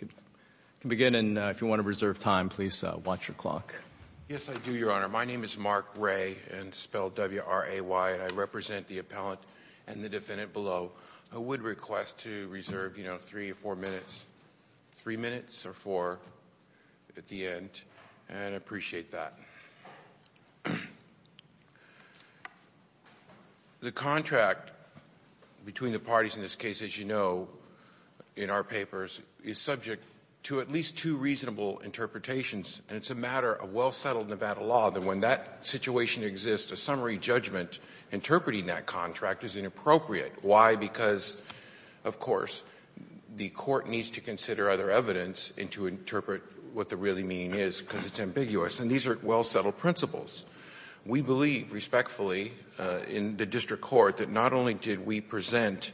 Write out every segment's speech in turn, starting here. You can begin, and if you want to reserve time, please watch your clock. Yes, I do, Your Honor. My name is Mark Ray, and spelled W-R-A-Y, and I represent the appellant and the defendant below. I would request to reserve, you know, three or four minutes, three minutes or four at the end, and I'd appreciate that. The contract between the parties in this case, as you know, in our papers, is subject to at least two reasonable interpretations, and it's a matter of well-settled Nevada law that when that situation exists, a summary judgment interpreting that contract is inappropriate. Why? Because, of course, the court needs to consider other evidence and to interpret what the really meaning is because it's ambiguous, and these are well-settled principles. We believe respectfully in the district court that not only did we present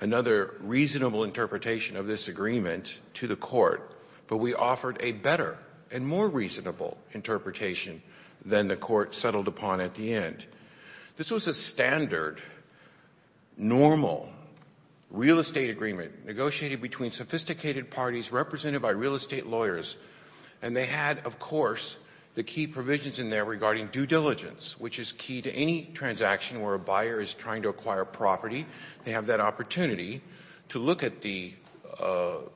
another reasonable interpretation of this agreement to the court, but we offered a better and more reasonable interpretation than the court settled upon at the end. This was a standard, normal real estate agreement negotiated between sophisticated parties represented by real estate lawyers, and they had, of course, the key provisions in there regarding due diligence, which is key to any transaction where a buyer is trying to acquire property. They have that opportunity to look at the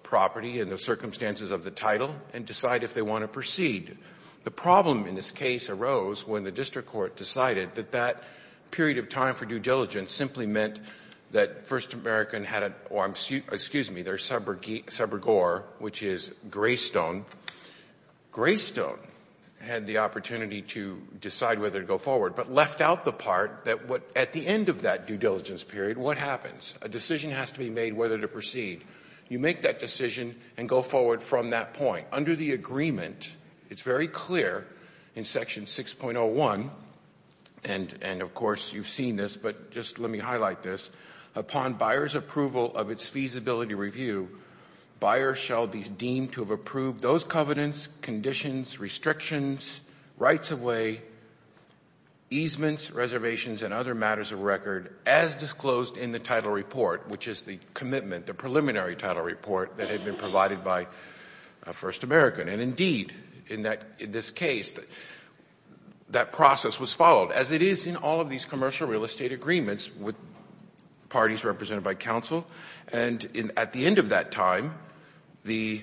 property and the circumstances of the title and decide if they want to proceed. The problem in this case arose when the district court decided that that period of time for due diligence simply meant that First American had a or, excuse me, their subrogator, which is Greystone. Greystone had the opportunity to decide whether to go forward, but left out the part that at the end of that due diligence period, what happens? A decision has to be made whether to proceed. You make that decision and go forward from that point. Under the agreement, it's very clear in Section 6.01, and of course you've seen this, but just let me highlight this. Upon buyer's approval of its feasibility review, buyers shall be deemed to have approved those covenants, conditions, restrictions, rights of way, easements, reservations, and other matters of record, as disclosed in the title report, which is the commitment, the preliminary title report, that had been provided by First American. And indeed, in this case, that process was followed, as it is in all of these commercial real estate agreements with parties represented by counsel. And at the end of that time, the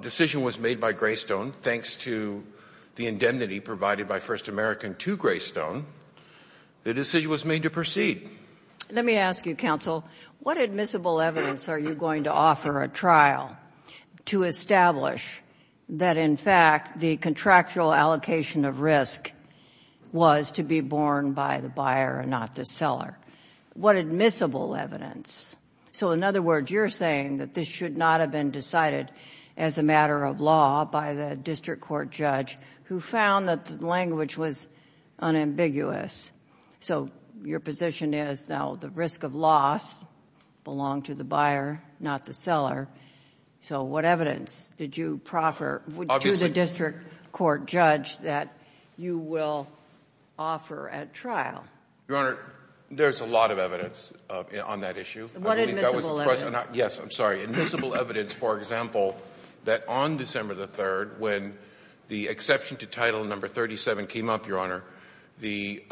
decision was made by Greystone. Thanks to the indemnity provided by First American to Greystone, the decision was made to proceed. Let me ask you, counsel, what admissible evidence are you going to offer a trial to establish that, in fact, the contractual allocation of risk was to be borne by the buyer and not the seller? What admissible evidence? So, in other words, you're saying that this should not have been decided as a matter of law by the district court judge, who found that the language was unambiguous. So your position is, now, the risk of loss belonged to the buyer, not the seller. So what evidence did you proffer to the district court judge that you will offer at trial? Your Honor, there's a lot of evidence on that issue. What admissible evidence? Yes, I'm sorry. Admissible evidence, for example, that on December the 3rd, when the exception to Title No. 37 came up, Your Honor, the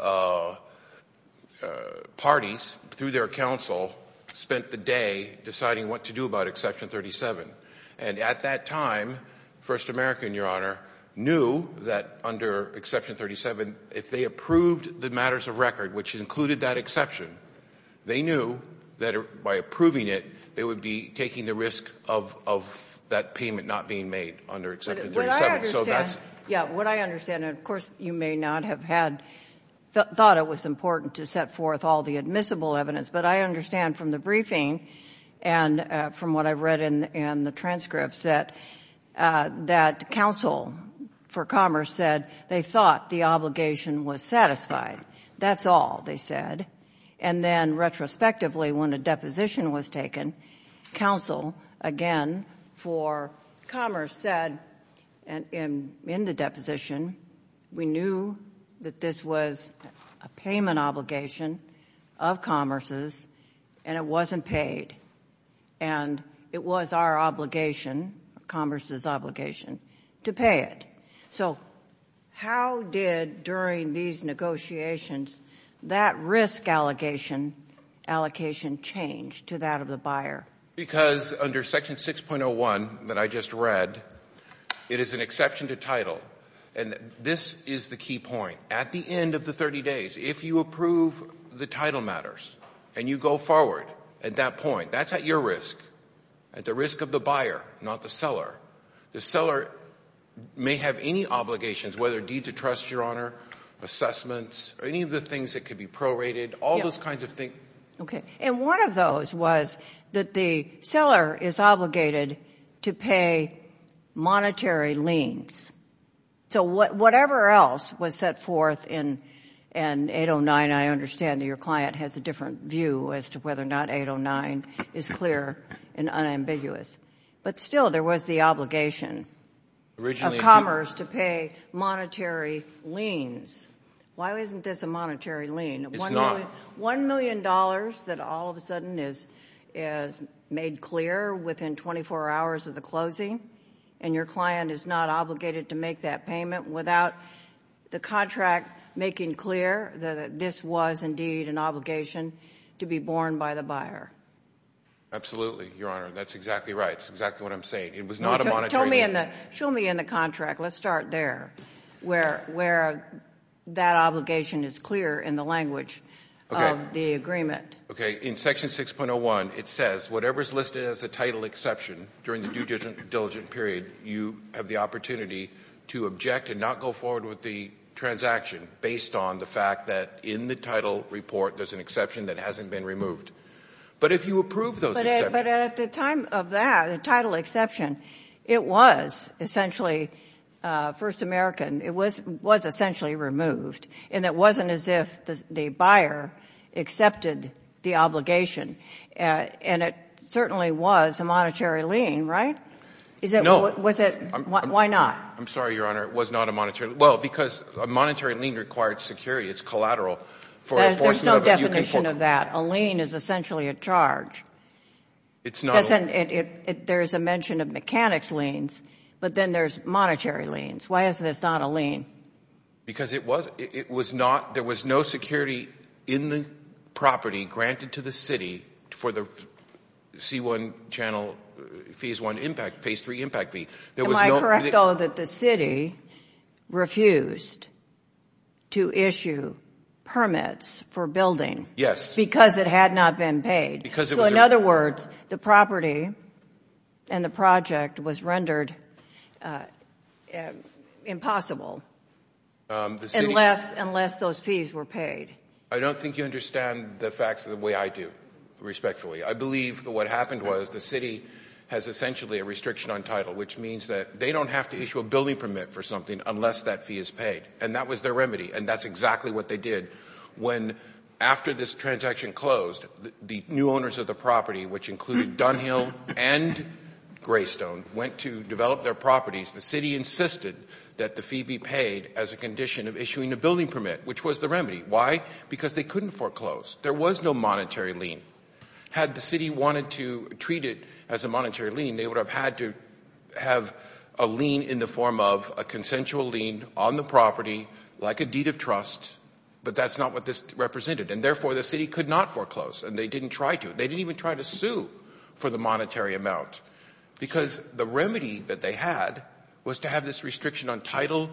parties, through their counsel, spent the day deciding what to do about Exception 37. And at that time, First American, Your Honor, knew that under Exception 37, if they approved the matters of record, which included that exception, they knew that by approving it, they would be taking the risk of that payment not being made under Exception 37. Yeah, what I understand, and of course you may not have thought it was important to set forth all the admissible evidence, but I understand from the briefing and from what I read in the transcripts that counsel for Commerce said they thought the obligation was satisfied. That's all they said. And then retrospectively, when a deposition was taken, counsel again for Commerce said, in the deposition, we knew that this was a payment obligation of Commerce's, and it wasn't paid. And it was our obligation, Commerce's obligation, to pay it. So how did, during these negotiations, that risk allocation change to that of the buyer? Because under Section 6.01 that I just read, it is an exception to title. And this is the key point. At the end of the 30 days, if you approve the title matters and you go forward at that point, that's at your risk, at the risk of the buyer, not the seller. The seller may have any obligations, whether deeds of trust, Your Honor, assessments, or any of the things that could be prorated, all those kinds of things. Okay. And one of those was that the seller is obligated to pay monetary liens. So whatever else was set forth in 809, I understand that your client has a different view as to whether or not 809 is clear and unambiguous. But still, there was the obligation of Commerce to pay monetary liens. Why isn't this a monetary lien? It's not. One million dollars that all of a sudden is made clear within 24 hours of the closing, and your client is not obligated to make that payment without the contract making clear that this was indeed an obligation to be borne by the buyer. Absolutely, Your Honor. That's exactly right. That's exactly what I'm saying. It was not a monetary lien. Show me in the contract. Let's start there, where that obligation is clear in the language of the agreement. Okay. In Section 6.01, it says whatever is listed as a title exception during the due diligence period, you have the opportunity to object and not go forward with the transaction based on the fact that in the title report there's an exception that hasn't been removed. But if you approve those exceptions. But at the time of that, the title exception, it was essentially First American. It was essentially removed. And it wasn't as if the buyer accepted the obligation. And it certainly was a monetary lien, right? No. Why not? I'm sorry, Your Honor. It was not a monetary lien. Well, because a monetary lien requires security. It's collateral. There's no definition of that. A lien is essentially a charge. It's not a lien. There's a mention of mechanics liens, but then there's monetary liens. Why is this not a lien? Because it was not – there was no security in the property granted to the city for the C1 channel, Phase 1 impact, Phase 3 impact fee. Am I correct, though, that the city refused to issue permits for building? Yes. Because it had not been paid. So, in other words, the property and the project was rendered impossible unless those fees were paid. I don't think you understand the facts the way I do, respectfully. I believe that what happened was the city has essentially a restriction on title, which means that they don't have to issue a building permit for something unless that fee is paid. And that was their remedy, and that's exactly what they did. When, after this transaction closed, the new owners of the property, which included Dunhill and Greystone, went to develop their properties, the city insisted that the fee be paid as a condition of issuing a building permit, which was the remedy. Why? Because they couldn't foreclose. There was no monetary lien. Had the city wanted to treat it as a monetary lien, they would have had to have a lien in the form of a consensual lien on the property, like a deed of trust, but that's not what this represented. And, therefore, the city could not foreclose, and they didn't try to. They didn't even try to sue for the monetary amount, because the remedy that they had was to have this restriction on title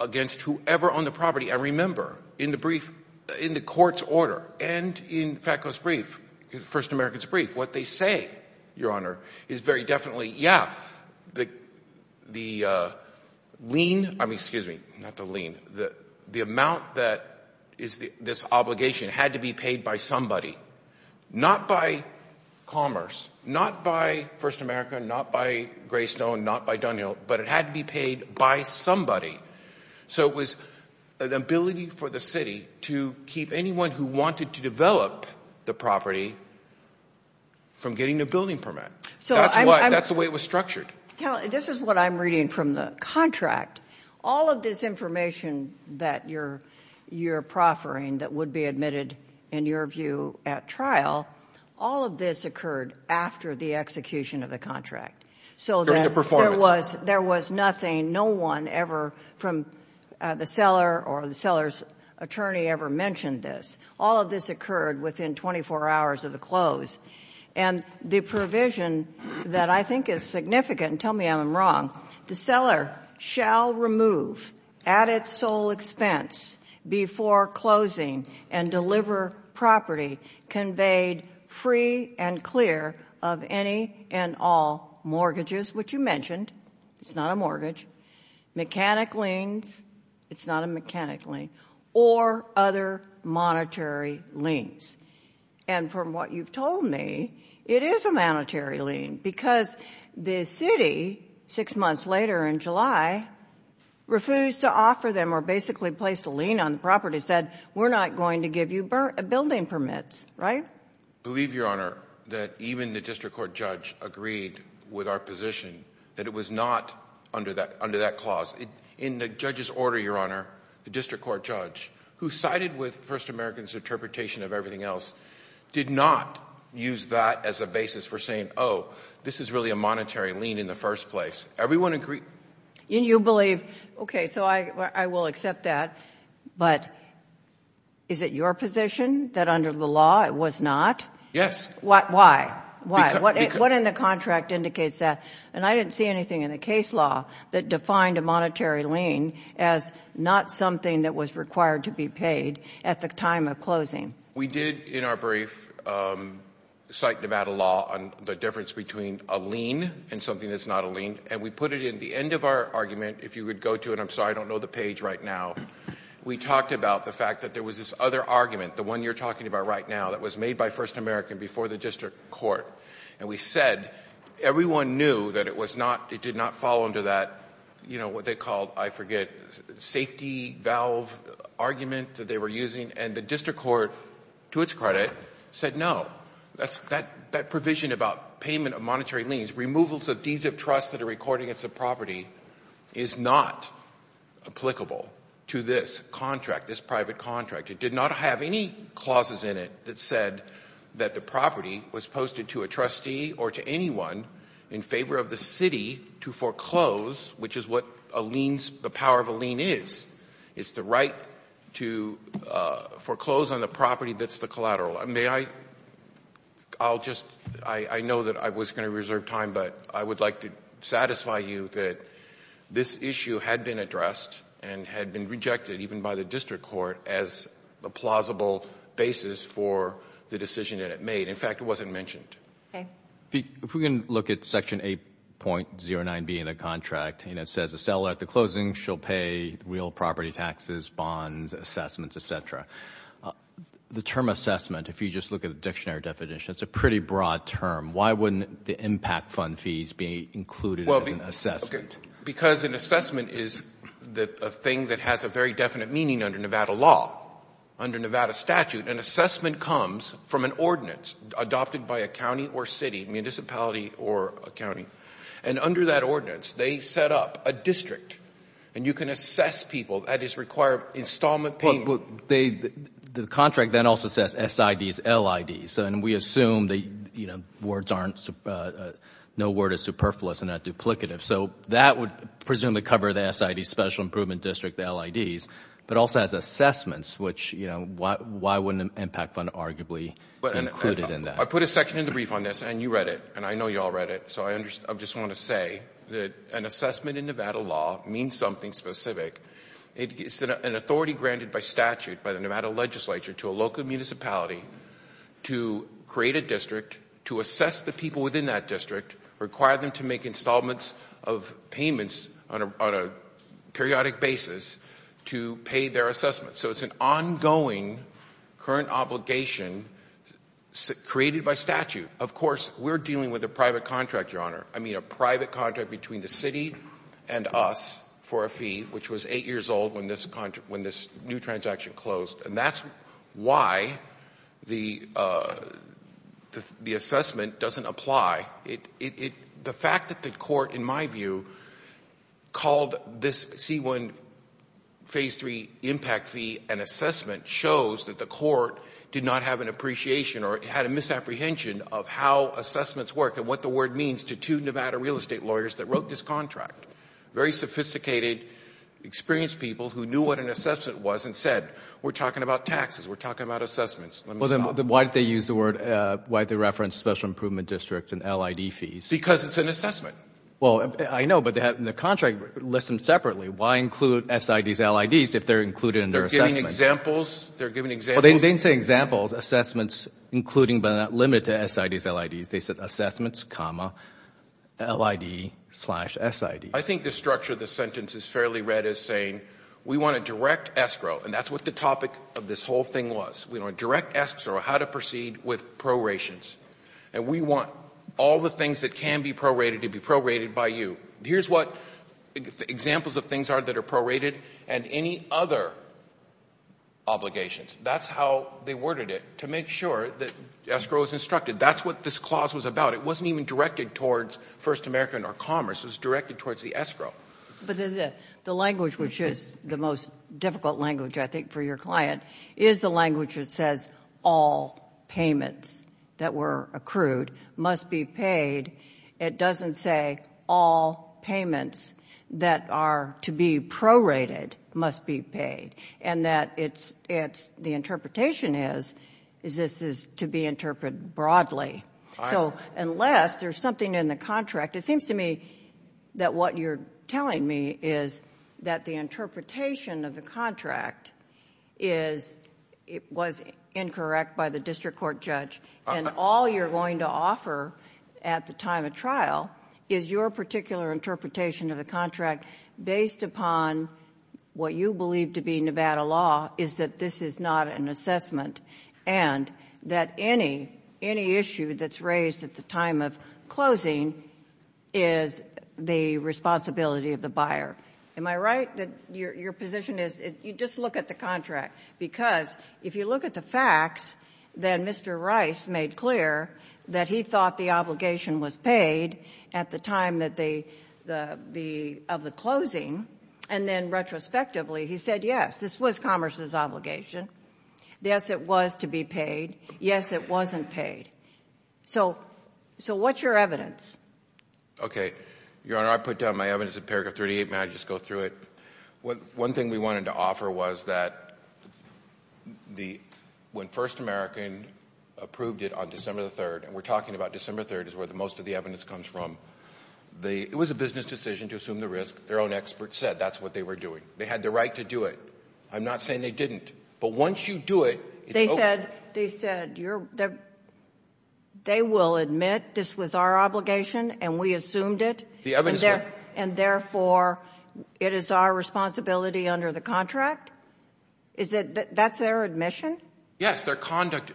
against whoever owned the property. And remember, in the court's order and in FATCO's brief, First American's brief, what they say, Your Honor, is very definitely, yeah, the lien, I mean, excuse me, not the lien, the amount that is this obligation had to be paid by somebody, not by Commerce, not by First America, not by Greystone, not by Dunhill, but it had to be paid by somebody. So it was an ability for the city to keep anyone who wanted to develop the property from getting a building permit. That's the way it was structured. This is what I'm reading from the contract. All of this information that you're proffering that would be admitted, in your view, at trial, all of this occurred after the execution of the contract. During the performance. There was nothing, no one ever from the seller or the seller's attorney ever mentioned this. All of this occurred within 24 hours of the close. And the provision that I think is significant, and tell me I'm wrong, the seller shall remove at its sole expense before closing and deliver property conveyed free and clear of any and all mortgages, which you mentioned, it's not a mortgage, mechanic liens, it's not a mechanic lien, or other monetary liens. And from what you've told me, it is a monetary lien, because the city, six months later in July, refused to offer them, or basically placed a lien on the property, said, we're not going to give you building permits. Right? I believe, Your Honor, that even the district court judge agreed with our position that it was not under that clause. In the judge's order, Your Honor, the district court judge, who sided with First American's interpretation of everything else, did not use that as a basis for saying, oh, this is really a monetary lien in the first place. Everyone agreed. And you believe, okay, so I will accept that, but is it your position that under the law it was not? Yes. Why? What in the contract indicates that? And I didn't see anything in the case law that defined a monetary lien as not something that was required to be paid at the time of closing. We did, in our brief, cite Nevada law on the difference between a lien and something that's not a lien, and we put it in the end of our argument, if you would go to it. I'm sorry, I don't know the page right now. We talked about the fact that there was this other argument, the one you're talking about right now, that was made by First American before the district court, and we said everyone knew that it was not, it did not fall under that, you know, what they called, I forget, safety valve argument that they were using, and the district court, to its credit, said no. That provision about payment of monetary liens, removals of deeds of trust that are recorded against the property, is not applicable to this contract, this private contract. It did not have any clauses in it that said that the property was posted to a trustee or to anyone in favor of the city to foreclose, which is what a lien's, the power of a lien is. It's the right to foreclose on the property that's the collateral. May I, I'll just, I know that I was going to reserve time, but I would like to satisfy you that this issue had been addressed and had been rejected even by the district court as a plausible basis for the decision that it made. In fact, it wasn't mentioned. Okay. If we can look at Section 8.09B in the contract, and it says a seller at the closing shall pay real property taxes, bonds, assessments, et cetera. The term assessment, if you just look at the dictionary definition, it's a pretty broad term. Why wouldn't the impact fund fees be included as an assessment? Because an assessment is a thing that has a very definite meaning under Nevada law, under Nevada statute. An assessment comes from an ordinance adopted by a county or city, municipality or a county, and under that ordinance they set up a district, and you can assess people. That is required installment payment. Well, the contract then also says SIDs, LIDs, and we assume that words aren't, no word is superfluous and not duplicative. So that would presumably cover the SIDs, Special Improvement District, the LIDs, but also has assessments, which, you know, why wouldn't an impact fund arguably be included in that? I put a section in the brief on this, and you read it, and I know you all read it, so I just want to say that an assessment in Nevada law means something specific. It's an authority granted by statute by the Nevada legislature to a local municipality to create a district, to assess the people within that district, require them to make installments of payments on a periodic basis to pay their assessment. So it's an ongoing current obligation created by statute. Of course, we're dealing with a private contract, Your Honor. I mean a private contract between the city and us for a fee, which was eight years old when this new transaction closed, and that's why the assessment doesn't apply. The fact that the court, in my view, called this C-1 Phase III impact fee an assessment shows that the court did not have an appreciation or had a misapprehension of how assessments work and what the word means to two Nevada real estate lawyers that wrote this contract, very sophisticated, experienced people who knew what an assessment was and said, we're talking about taxes, we're talking about assessments. Well, then why did they use the word, why did they reference Special Improvement District and LID fees? Because it's an assessment. Well, I know, but the contract lists them separately. Why include SIDs, LIDs, if they're included in their assessment? They're given examples. Well, they didn't say examples, assessments, including but not limited to SIDs, LIDs. They said assessments, LID, slash SIDs. I think the structure of this sentence is fairly read as saying we want a direct escrow, and that's what the topic of this whole thing was. We want a direct escrow, how to proceed with prorations, and we want all the things that can be prorated to be prorated by you. Here's what examples of things are that are prorated, and any other obligations, that's how they worded it, to make sure that escrow is instructed. That's what this clause was about. It wasn't even directed towards First American or Commerce. It was directed towards the escrow. But the language, which is the most difficult language, I think, for your client, is the language that says all payments that were accrued must be paid. It doesn't say all payments that are to be prorated must be paid, and that the interpretation is this is to be interpreted broadly. So unless there's something in the contract, it seems to me that what you're telling me is that the interpretation of the contract was incorrect by the district court judge, and all you're going to offer at the time of trial is your particular interpretation of the contract based upon what you believe to be Nevada law is that this is not an assessment and that any issue that's raised at the time of closing is the responsibility of the buyer. Am I right that your position is you just look at the contract? Because if you look at the facts, then Mr. Rice made clear that he thought the obligation was paid at the time of the closing, and then retrospectively he said, yes, this was Commerce's obligation. Yes, it was to be paid. Yes, it wasn't paid. So what's your evidence? Okay. Your Honor, I put down my evidence in paragraph 38. May I just go through it? One thing we wanted to offer was that when First American approved it on December 3rd, and we're talking about December 3rd is where most of the evidence comes from, it was a business decision to assume the risk. Their own experts said that's what they were doing. They had the right to do it. I'm not saying they didn't. But once you do it, it's over. They said they will admit this was our obligation and we assumed it, and therefore it is our responsibility under the contract? That's their admission? Yes. Their conduct.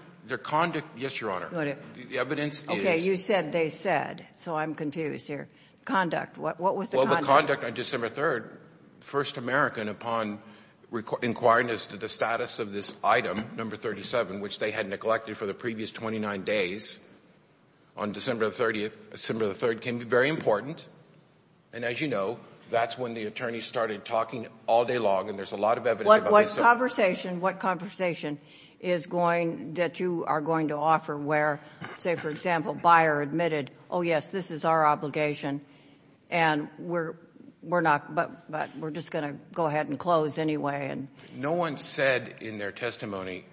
Yes, Your Honor. Okay. You said they said, so I'm confused here. Conduct. What was the conduct? Well, the conduct on December 3rd, First American, upon inquiring as to the status of this item, number 37, which they had neglected for the previous 29 days, on December 30th, December 3rd, can be very important. And as you know, that's when the attorneys started talking all day long, and there's a lot of evidence about this. What conversation is going that you are going to offer where, say, for example, Bayer admitted, oh, yes, this is our obligation, but we're just going to go ahead and close anyway? No one said in their testimony,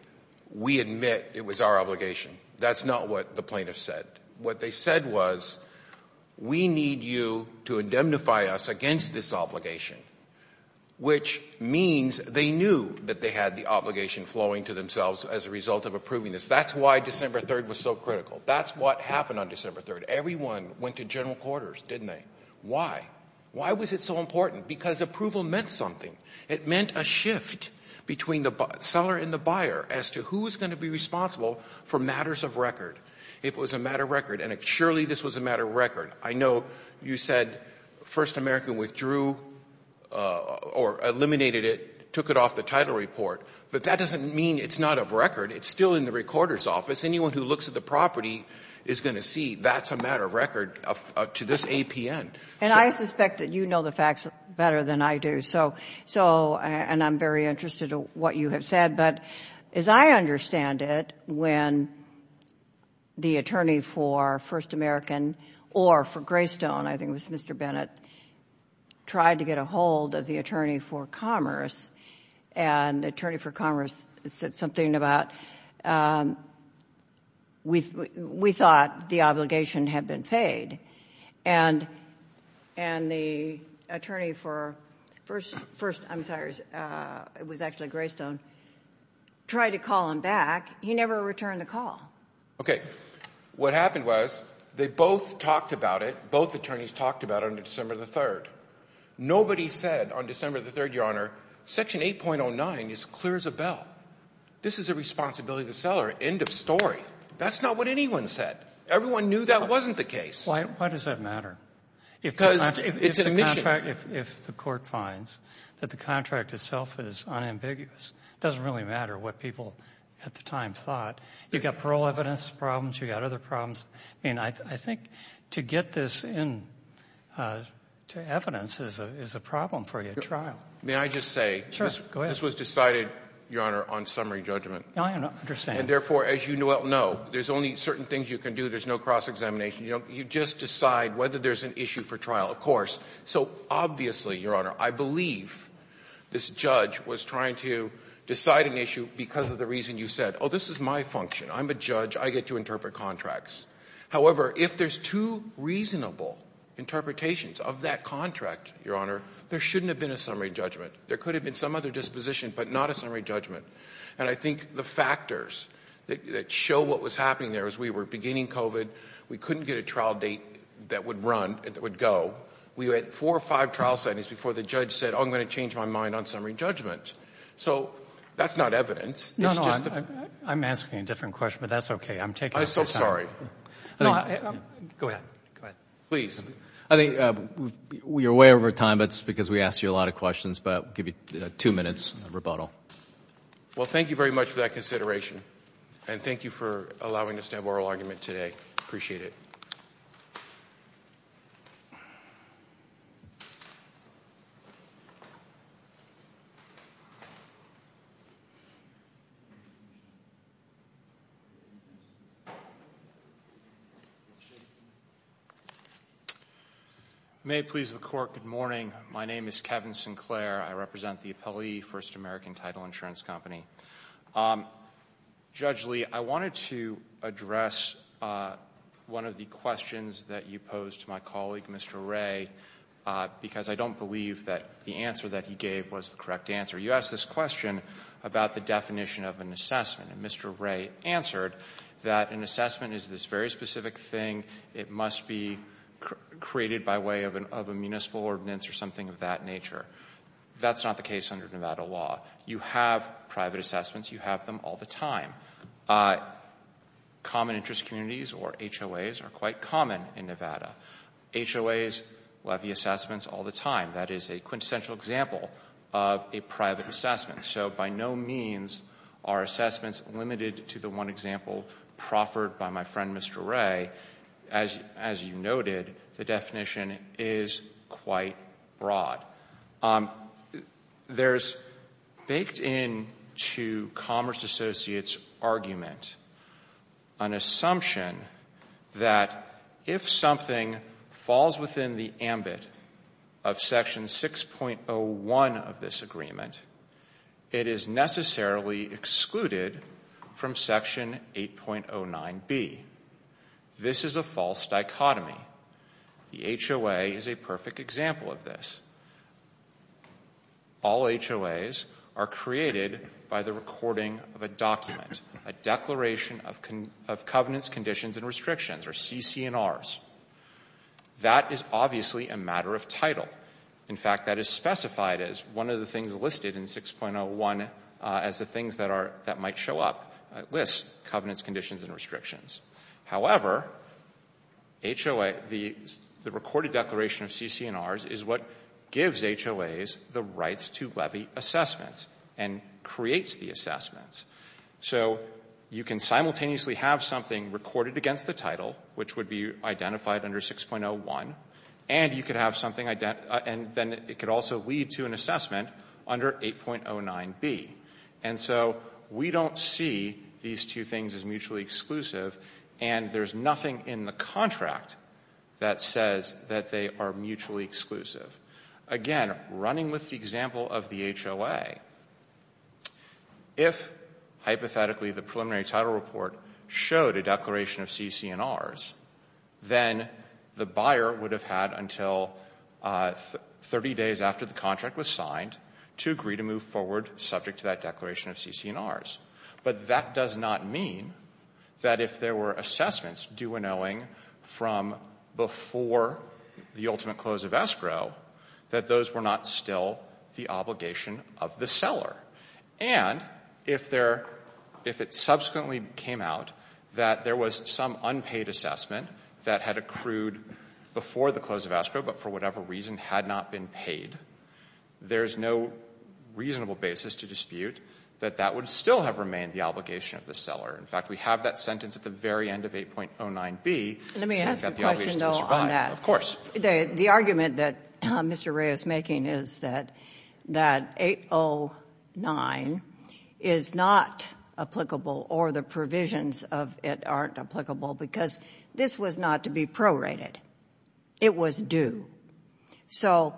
we admit it was our obligation. That's not what the plaintiffs said. What they said was, we need you to indemnify us against this obligation, which means they knew that they had the obligation flowing to themselves as a result of approving this. That's why December 3rd was so critical. That's what happened on December 3rd. Everyone went to general quarters, didn't they? Why? Why was it so important? Because approval meant something. It meant a shift between the seller and the buyer as to who is going to be It was a matter of record, and surely this was a matter of record. I know you said First American withdrew or eliminated it, took it off the title report, but that doesn't mean it's not of record. It's still in the recorder's office. Anyone who looks at the property is going to see that's a matter of record to this APN. And I suspect that you know the facts better than I do, and I'm very interested in what you have said. But as I understand it, when the attorney for First American or for Greystone, I think it was Mr. Bennett, tried to get a hold of the attorney for Commerce, and the attorney for Commerce said something about, we thought the obligation had been paid. And the attorney for First, I'm sorry, it was actually Greystone, tried to call him back. He never returned the call. Okay. What happened was they both talked about it. Both attorneys talked about it on December 3rd. Nobody said on December 3rd, Your Honor, Section 8.09 is clear as a bell. This is a responsibility to the seller. End of story. That's not what anyone said. Everyone knew that wasn't the case. Why does that matter? Because it's an admission. As a matter of fact, if the Court finds that the contract itself is unambiguous, it doesn't really matter what people at the time thought. You've got parole evidence problems. You've got other problems. I mean, I think to get this into evidence is a problem for a trial. May I just say this was decided, Your Honor, on summary judgment. I understand. And, therefore, as you well know, there's only certain things you can do. There's no cross-examination. You just decide whether there's an issue for trial, of course. So, obviously, Your Honor, I believe this judge was trying to decide an issue because of the reason you said, oh, this is my function. I'm a judge. I get to interpret contracts. However, if there's two reasonable interpretations of that contract, Your Honor, there shouldn't have been a summary judgment. There could have been some other disposition but not a summary judgment. And I think the factors that show what was happening there was we were beginning COVID. We couldn't get a trial date that would run, that would go. We had four or five trial settings before the judge said, oh, I'm going to change my mind on summary judgment. So that's not evidence. No, no. I'm asking a different question, but that's okay. I'm taking up your time. I'm so sorry. Go ahead. Go ahead. Please. I think we are way over time, but it's because we asked you a lot of questions. But I'll give you two minutes of rebuttal. Well, thank you very much for that consideration. And thank you for allowing us to have oral argument today. I appreciate it. May it please the Court, good morning. My name is Kevin Sinclair. I represent the Appellee First American Title Insurance Company. Judge Lee, I wanted to address one of the questions that you posed to my colleague, Mr. Wray, because I don't believe that the answer that he gave was the correct answer. You asked this question about the definition of an assessment. And Mr. Wray answered that an assessment is this very specific thing. It must be created by way of a municipal ordinance or something of that nature. That's not the case under Nevada law. You have private assessments. You have them all the time. Common interest communities, or HOAs, are quite common in Nevada. HOAs will have the assessments all the time. That is a quintessential example of a private assessment. So by no means are assessments limited to the one example proffered by my friend, Mr. Wray. As you noted, the definition is quite broad. There's baked into Commerce Associates' argument an assumption that if something falls within the ambit of Section 6.01 of this agreement, it is necessarily excluded from Section 8.09B. This is a false dichotomy. The HOA is a perfect example of this. All HOAs are created by the recording of a document, a declaration of covenants, conditions, and restrictions, or CC&Rs. That is obviously a matter of title. In fact, that is specified as one of the things listed in 6.01 as the things that might show up. It lists covenants, conditions, and restrictions. However, the recorded declaration of CC&Rs is what gives HOAs the rights to levy assessments and creates the assessments. So you can simultaneously have something recorded against the title, which would be identified under 6.01, and then it could also lead to an assessment under 8.09B. And so we don't see these two things as mutually exclusive, and there's nothing in the contract that says that they are mutually exclusive. Again, running with the example of the HOA, if, hypothetically, the preliminary title report showed a declaration of CC&Rs, then the buyer would have had until 30 days after the contract was signed to agree to move forward subject to that declaration of CC&Rs. But that does not mean that if there were assessments due and owing from before the ultimate close of escrow, that those were not still the obligation of the seller. And if there — if it subsequently came out that there was some unpaid assessment that had accrued before the close of escrow but for whatever reason had not been paid, there's no reasonable basis to dispute that that would still have remained the obligation of the seller. In fact, we have that sentence at the very end of 8.09B. Let me ask a question, though, on that. Of course. The argument that Mr. Ray is making is that 8.09 is not applicable or the provisions of it aren't applicable because this was not to be prorated. It was due. So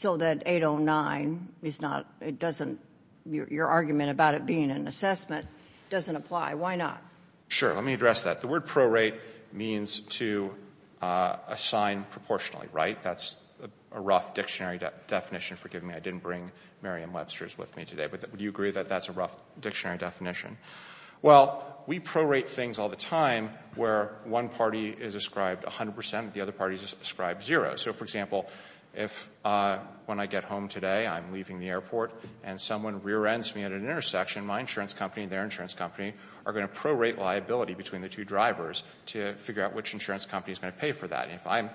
that 8.09 is not — it doesn't — your argument about it being an assessment doesn't apply. Why not? Sure. Let me address that. The word prorate means to assign proportionally, right? That's a rough dictionary definition. Forgive me. I didn't bring Merriam-Webster's with me today. But would you agree that that's a rough dictionary definition? Well, we prorate things all the time where one party is ascribed 100 percent and the other party is ascribed zero. So, for example, if when I get home today I'm leaving the airport and someone rear-ends me at an intersection, my insurance company and their insurance company are going to prorate liability between the two drivers to figure out which insurance company is going to pay for that. And if I'm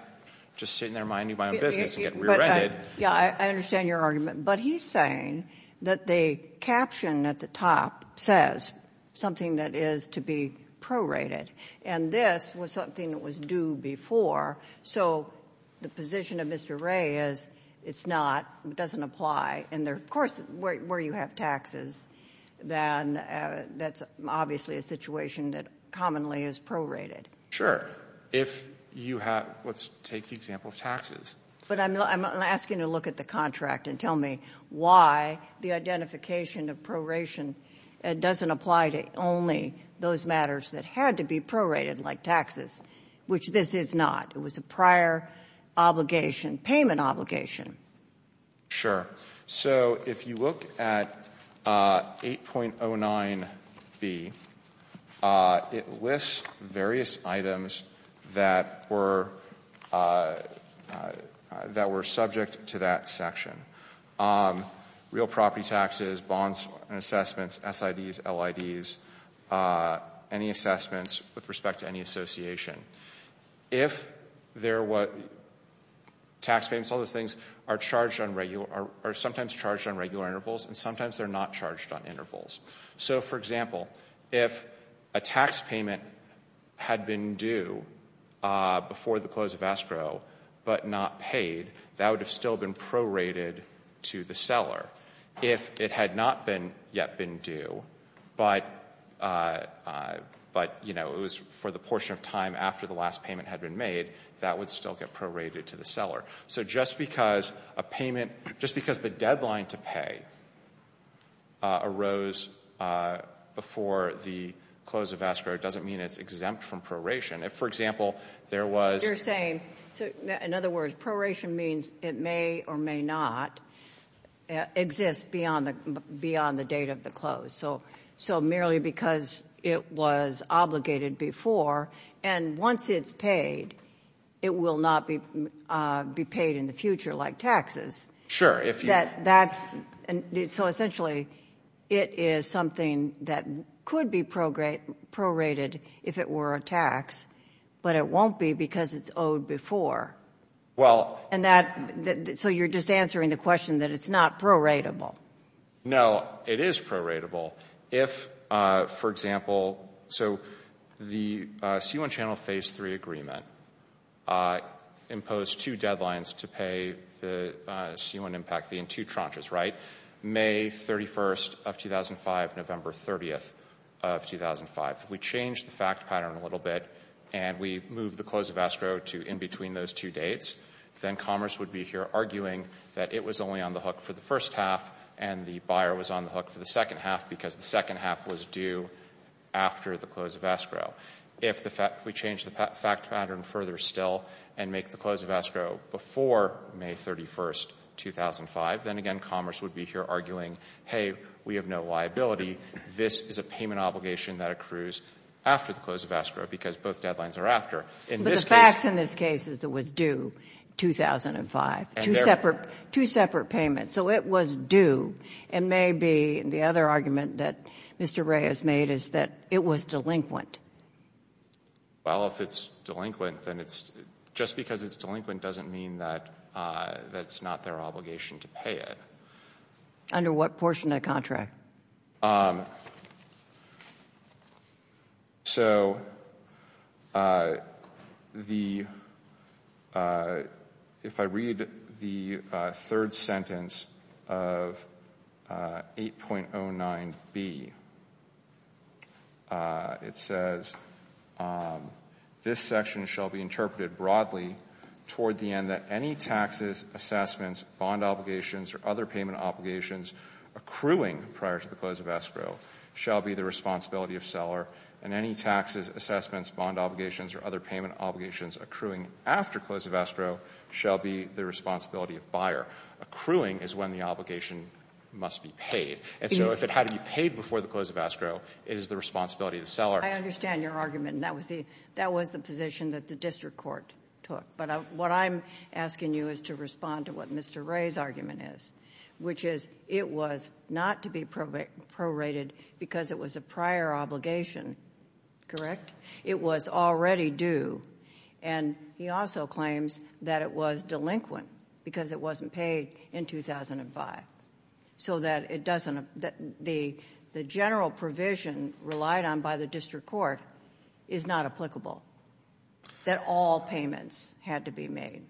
just sitting there minding my own business and getting rear-ended — Yeah, I understand your argument. But he's saying that the caption at the top says something that is to be prorated. And this was something that was due before. So the position of Mr. Ray is it's not, it doesn't apply. And, of course, where you have taxes, then that's obviously a situation that commonly is prorated. Sure. If you have — let's take the example of taxes. But I'm asking to look at the contract and tell me why the identification of proration doesn't apply to only those matters that had to be prorated like taxes, which this is not. It was a prior obligation, payment obligation. Sure. So if you look at 8.09B, it lists various items that were subject to that section. Real property taxes, bonds and assessments, SIDs, LIDs, any assessments with respect to any association. If there were tax payments, all those things are sometimes charged on regular intervals, and sometimes they're not charged on intervals. So, for example, if a tax payment had been due before the close of escrow but not paid, that would have still been prorated to the seller. If it had not yet been due but it was for the portion of time after the last payment had been made, that would still get prorated to the seller. So just because a payment — just because the deadline to pay arose before the close of escrow doesn't mean it's exempt from proration. If, for example, there was — In other words, proration means it may or may not exist beyond the date of the close. So merely because it was obligated before, and once it's paid, it will not be paid in the future like taxes. Sure. So essentially, it is something that could be prorated if it were a tax, but it won't be because it's owed before. So you're just answering the question that it's not proratable. No, it is proratable if, for example — So the C-1 Channel Phase III agreement imposed two deadlines to pay the C-1 impact, the in two tranches, right? May 31st of 2005, November 30th of 2005. If we change the fact pattern a little bit and we move the close of escrow to in between those two dates, then commerce would be here arguing that it was only on the hook for the first half and the buyer was on the hook for the second half because the second half was due after the close of escrow. If we change the fact pattern further still and make the close of escrow before May 31st, 2005, then, again, commerce would be here arguing, hey, we have no liability. This is a payment obligation that accrues after the close of escrow because both deadlines are after. But the facts in this case is it was due 2005, two separate payments. So it was due. And maybe the other argument that Mr. Wray has made is that it was delinquent. Well, if it's delinquent, then it's — just because it's delinquent doesn't mean that it's not their obligation to pay it. Under what portion of the contract? So the — if I read the third sentence of 8.09B, it says, this section shall be interpreted broadly toward the end that any taxes, assessments, bond obligations, or other payment obligations accruing prior to the close of escrow shall be the responsibility of seller, and any taxes, assessments, bond obligations, or other payment obligations accruing after close of escrow shall be the responsibility of buyer. Accruing is when the obligation must be paid. And so if it had to be paid before the close of escrow, it is the responsibility of the seller. I understand your argument, and that was the position that the district court took. But what I'm asking you is to respond to what Mr. Wray's argument is, which is it was not to be prorated because it was a prior obligation, correct? It was already due. And he also claims that it was delinquent because it wasn't paid in 2005. So that it doesn't — the general provision relied on by the district court is not applicable, that all payments had to be made.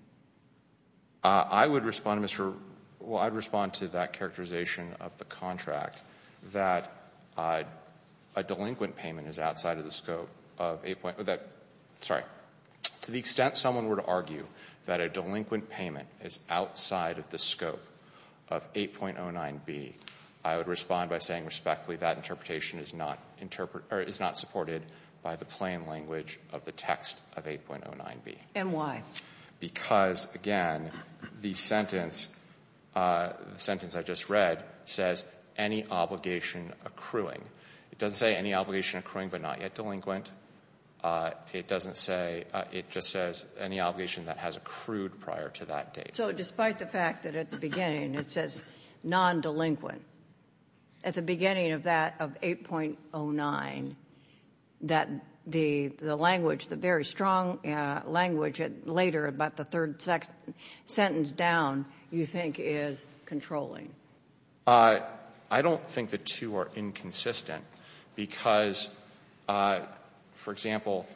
I would respond to Mr. — well, I'd respond to that characterization of the contract that a delinquent payment is outside of the scope of 8. — sorry. To the extent someone were to argue that a delinquent payment is outside of the scope of 8.09B, I would respond by saying respectfully that interpretation is not supported by the plain language of the text of 8.09B. And why? Because, again, the sentence I just read says any obligation accruing. It doesn't say any obligation accruing but not yet delinquent. It doesn't say — it just says any obligation that has accrued prior to that date. So despite the fact that at the beginning it says non-delinquent, at the beginning of that, of 8.09, that the language, the very strong language at later, about the third sentence down, you think is controlling? I don't think the two are inconsistent because, for example,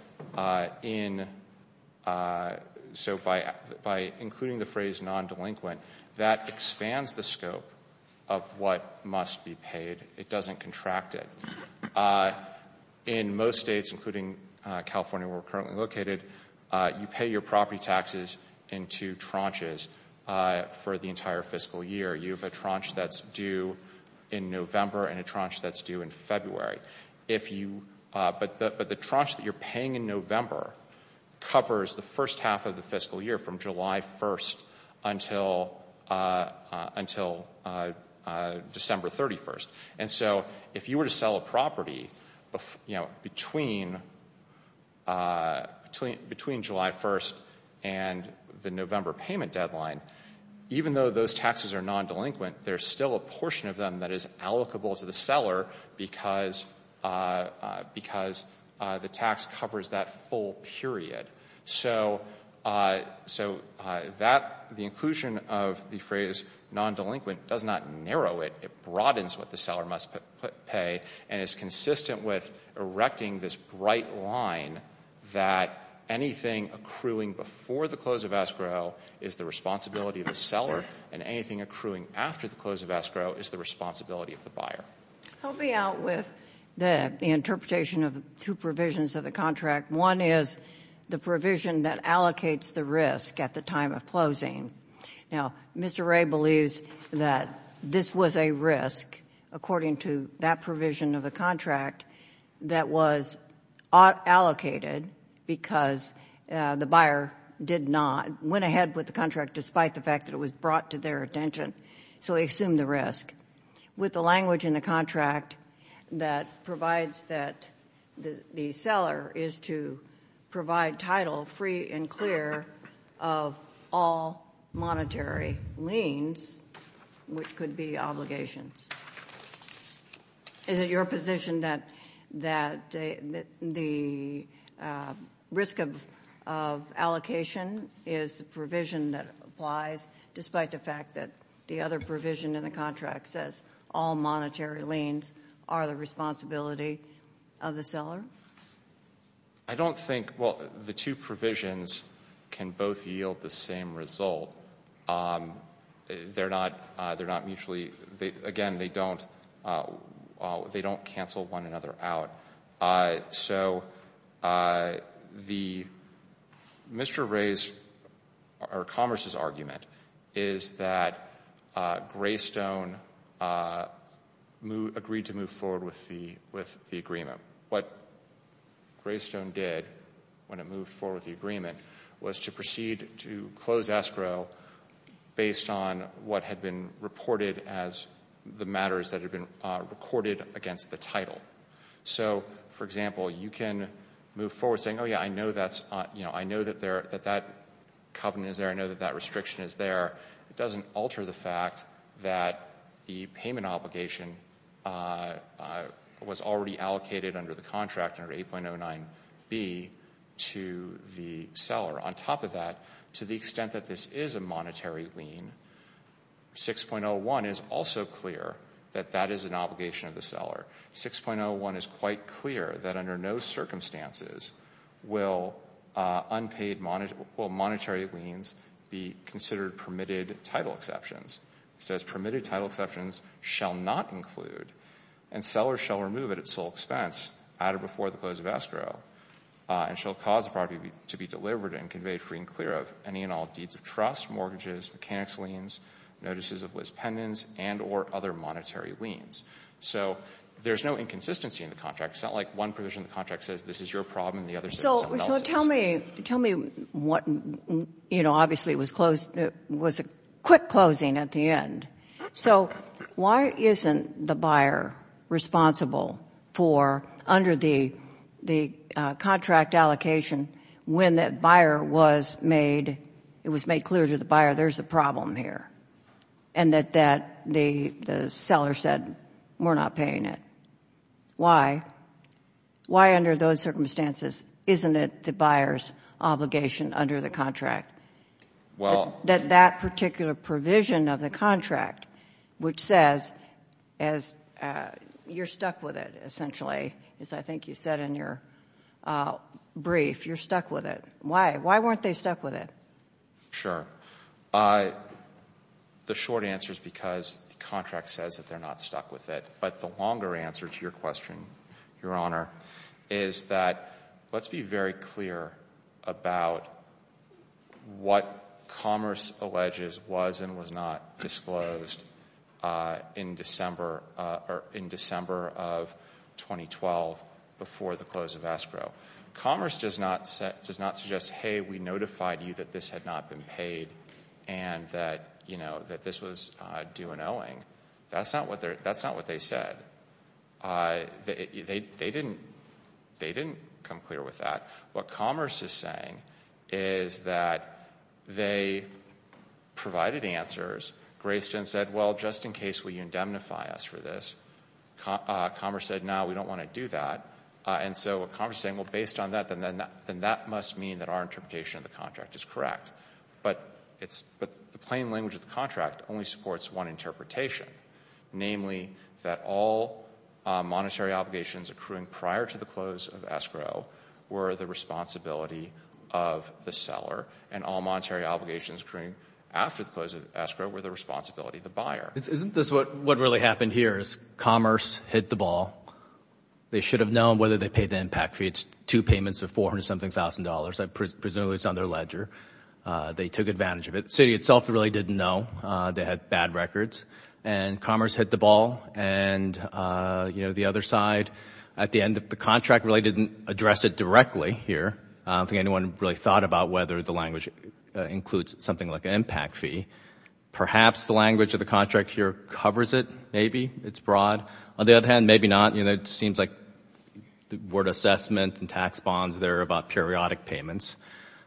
in — so by including the phrase non-delinquent, that expands the scope of what must be paid. It doesn't contract it. In most states, including California where we're currently located, you pay your property taxes in two tranches for the entire fiscal year. You have a tranche that's due in November and a tranche that's due in February. But the tranche that you're paying in November covers the first half of the fiscal year from July 1st until December 31st. And so if you were to sell a property between July 1st and the November payment deadline, even though those taxes are non-delinquent, there's still a portion of them that is allocable to the seller because the tax covers that full period. So the inclusion of the phrase non-delinquent does not narrow it. It broadens what the seller must pay and is consistent with erecting this bright line that anything accruing before the close of escrow is the responsibility of the seller and anything accruing after the close of escrow is the responsibility of the buyer. I'll be out with the interpretation of two provisions of the contract. One is the provision that allocates the risk at the time of closing. Now, Mr. Wray believes that this was a risk according to that provision of the contract that was allocated because the buyer did not, went ahead with the contract despite the fact that it was brought to their attention, so he assumed the risk. With the language in the contract that provides that the seller is to provide title free and clear of all monetary liens, which could be obligations, is it your position that the risk of allocation is the provision that applies despite the fact that the other provision in the contract says all monetary liens are the responsibility of the seller? I don't think, well, the two provisions can both yield the same result. They're not mutually, again, they don't cancel one another out. So Mr. Wray's or Commerce's argument is that Greystone agreed to move forward with the agreement. What Greystone did when it moved forward with the agreement was to proceed to close escrow based on what had been reported as the matters that had been recorded against the title. So, for example, you can move forward saying, oh yeah, I know that that covenant is there, I know that that restriction is there. It doesn't alter the fact that the payment obligation was already allocated under the contract under 8.09B to the seller. On top of that, to the extent that this is a monetary lien, 6.01 is also clear that that is an obligation of the seller. 6.01 is quite clear that under no circumstances will unpaid monetary liens be considered permitted title exceptions. It says permitted title exceptions shall not include, and sellers shall remove at its sole expense, at or before the close of escrow, and shall cause the property to be delivered and conveyed free and clear of any and all deeds of trust, mortgages, mechanics liens, notices of list pendants, and or other monetary liens. So there's no inconsistency in the contract. It's not like one provision of the contract says this is your problem and the other says someone else's. So tell me what, you know, obviously it was a quick closing at the end. So why isn't the buyer responsible for, under the contract allocation, when that buyer was made clear to the buyer there's a problem here and that the seller said we're not paying it? Why? Why under those circumstances isn't it the buyer's obligation under the contract? That that particular provision of the contract, which says you're stuck with it essentially, as I think you said in your brief, you're stuck with it. Why? Why weren't they stuck with it? Sure. The short answer is because the contract says that they're not stuck with it. But the longer answer to your question, Your Honor, is that let's be very clear about what Commerce alleges was and was not disclosed in December of 2012 before the close of escrow. Commerce does not suggest, hey, we notified you that this had not been paid and that this was due an owing. That's not what they said. They didn't come clear with that. What Commerce is saying is that they provided answers. Grayston said, well, just in case, will you indemnify us for this? Commerce said, no, we don't want to do that. And so Commerce is saying, well, based on that, then that must mean that our interpretation of the contract is correct. But the plain language of the contract only supports one interpretation, namely that all monetary obligations accruing prior to the close of escrow were the responsibility of the seller and all monetary obligations accruing after the close of escrow were the responsibility of the buyer. Isn't this what really happened here is Commerce hit the ball. They should have known whether they paid the impact fee. It's two payments of $400-something thousand. I presume it's on their ledger. They took advantage of it. The city itself really didn't know. They had bad records. And Commerce hit the ball. And, you know, the other side, at the end, the contract really didn't address it directly here. I don't think anyone really thought about whether the language includes something like an impact fee. Perhaps the language of the contract here covers it, maybe. It's broad. On the other hand, maybe not. You know, it seems like the word assessment and tax bonds there are about periodic payments.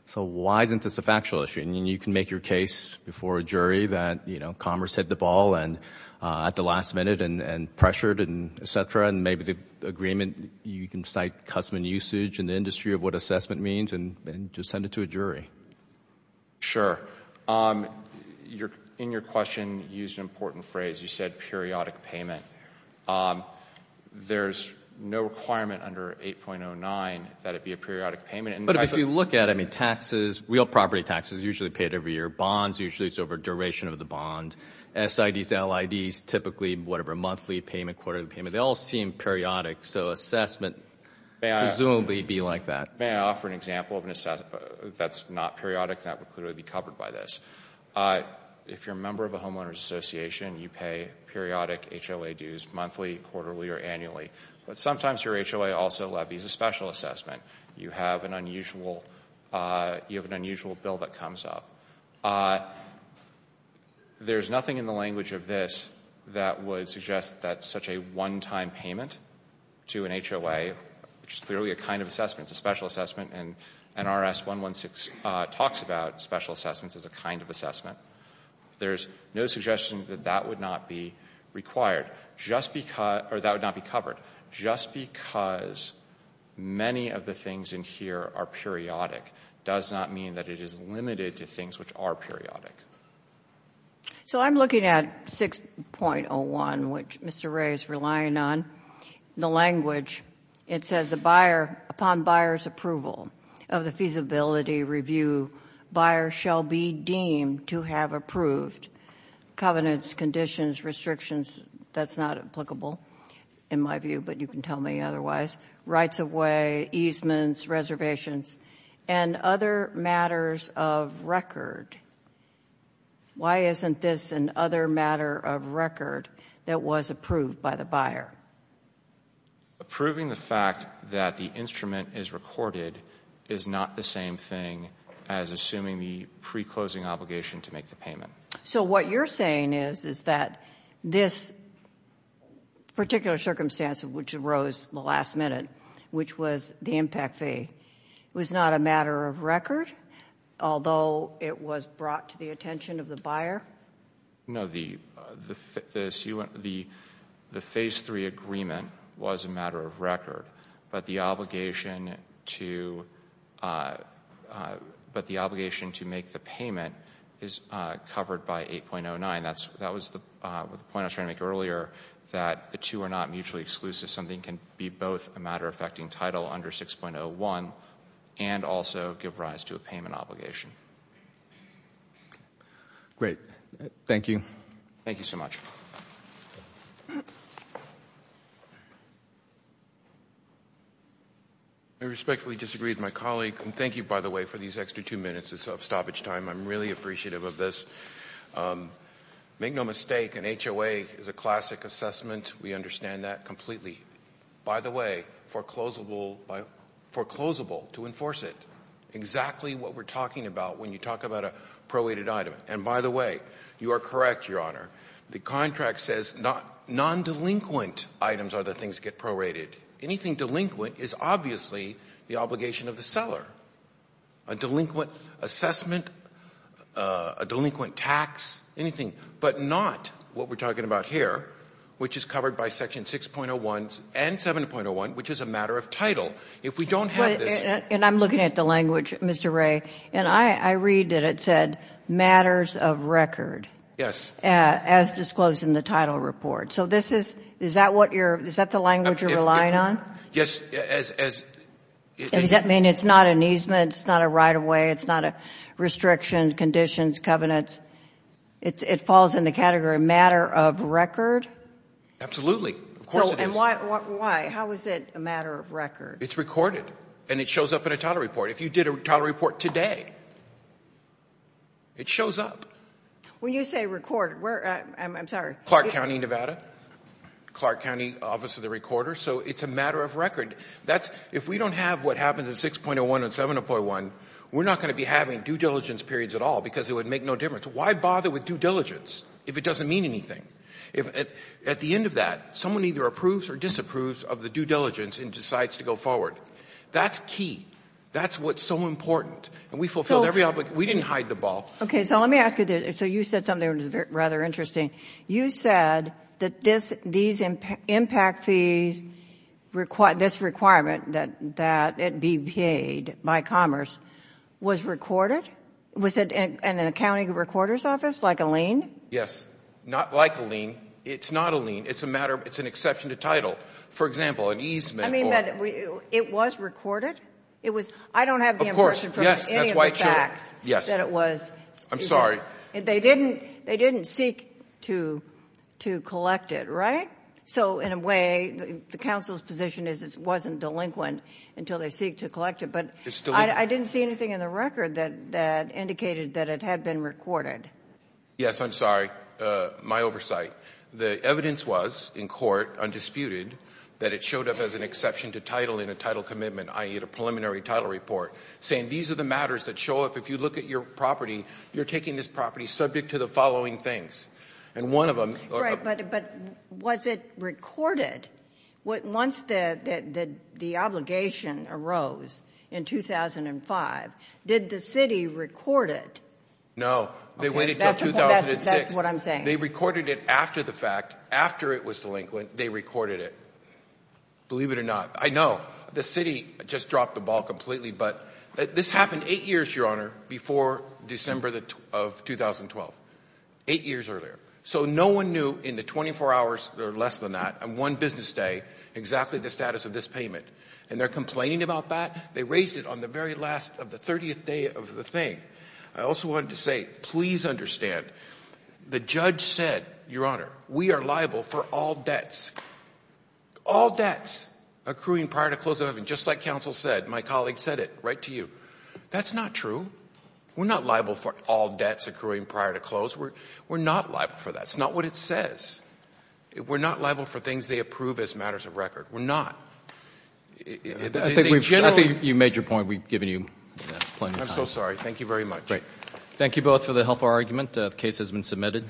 So why isn't this a factual issue? I mean, you can make your case before a jury that, you know, Commerce hit the ball at the last minute and pressured and et cetera, and maybe the agreement, you can cite custom and usage in the industry of what assessment means and just send it to a jury. Sure. In your question, you used an important phrase. You said periodic payment. There's no requirement under 8.09 that it be a periodic payment. But if you look at it, I mean, taxes, real property taxes are usually paid every year. Bonds, usually it's over duration of the bond. SIDs, LIDs, typically whatever monthly payment, quarterly payment, they all seem periodic. So assessment would presumably be like that. May I offer an example of an assessment that's not periodic that would clearly be covered by this? If you're a member of a homeowner's association, you pay periodic HOA dues monthly, quarterly, or annually. But sometimes your HOA also levies a special assessment. You have an unusual bill that comes up. There's nothing in the language of this that would suggest that such a one-time payment to an HOA, which is clearly a kind of assessment, it's a special assessment, and NRS 116 talks about special assessments as a kind of assessment. There's no suggestion that that would not be required, or that would not be covered. Just because many of the things in here are periodic does not mean that it is limited to things which are periodic. So I'm looking at 6.01, which Mr. Ray is relying on. In the language, it says upon buyer's approval of the feasibility review, buyer shall be deemed to have approved covenants, conditions, restrictions. That's not applicable in my view, but you can tell me otherwise. Rights of way, easements, reservations, and other matters of record. Why isn't this another matter of record that was approved by the buyer? Approving the fact that the instrument is recorded is not the same thing as assuming the pre-closing obligation to make the payment. So what you're saying is that this particular circumstance, which arose at the last minute, which was the impact fee, was not a matter of record, although it was brought to the attention of the buyer? No, the phase three agreement was a matter of record, but the obligation to make the payment is covered by 8.09. That was the point I was trying to make earlier, that the two are not mutually exclusive. Something can be both a matter-affecting title under 6.01 and also give rise to a payment obligation. Great. Thank you. Thank you so much. I respectfully disagree with my colleague, and thank you, by the way, for these extra two minutes of stoppage time. I'm really appreciative of this. Make no mistake, an HOA is a classic assessment. We understand that completely. By the way, foreclosable to enforce it, exactly what we're talking about when you talk about a prorated item. And by the way, you are correct, Your Honor, the contract says non-delinquent items are the things that get prorated. Anything delinquent is obviously the obligation of the seller. A delinquent assessment, a delinquent tax, anything, but not what we're talking about here, which is covered by Section 6.01 and 7.01, which is a matter of title. If we don't have this ---- And I'm looking at the language, Mr. Wray, and I read that it said matters of record. Yes. As disclosed in the title report. So this is ---- is that what you're ---- is that the language you're relying on? Yes, as ---- Does that mean it's not an easement, it's not a right-of-way, it's not a restriction, conditions, covenants? It falls in the category matter of record? Absolutely. Of course it is. And why? How is it a matter of record? It's recorded, and it shows up in a title report. If you did a title report today, it shows up. When you say record, where ---- I'm sorry. Clark County, Nevada, Clark County Office of the Recorder. So it's a matter of record. That's ---- if we don't have what happens in 6.01 and 7.01, we're not going to be having due diligence periods at all because it would make no difference. Why bother with due diligence if it doesn't mean anything? At the end of that, someone either approves or disapproves of the due diligence and decides to go forward. That's key. That's what's so important. And we fulfilled every obligation. We didn't hide the ball. Okay. So let me ask you this. So you said something that was rather interesting. You said that these impact fees, this requirement that it be paid by Commerce, was recorded? Was it in the county recorder's office, like a lien? Yes. Not like a lien. It's not a lien. It's a matter of ---- it's an exception to title. For example, an easement or ---- I mean, it was recorded? It was ---- I don't have the information from any of the facts that it was. I'm sorry. They didn't seek to collect it, right? So, in a way, the counsel's position is it wasn't delinquent until they seek to collect it. But I didn't see anything in the record that indicated that it had been recorded. Yes, I'm sorry. My oversight. The evidence was, in court, undisputed, that it showed up as an exception to title in a title commitment, i.e., a preliminary title report, saying these are the matters that show up. If you look at your property, you're taking this property subject to the following things. And one of them ---- But was it recorded? Once the obligation arose in 2005, did the city record it? No. They waited until 2006. That's what I'm saying. They recorded it after the fact. After it was delinquent, they recorded it, believe it or not. I know. The city just dropped the ball completely. But this happened 8 years, Your Honor, before December of 2012, 8 years earlier. So no one knew in the 24 hours or less than that, on one business day, exactly the status of this payment. And they're complaining about that? They raised it on the very last of the 30th day of the thing. I also wanted to say, please understand, the judge said, Your Honor, we are liable for all debts. All debts accruing prior to the close of heaven, just like counsel said, my colleague said it, right to you. That's not true. We're not liable for all debts accruing prior to close. We're not liable for that. It's not what it says. We're not liable for things they approve as matters of record. We're not. I think you made your point. We've given you plenty of time. I'm so sorry. Thank you very much. Thank you both for the helpful argument. The case has been submitted.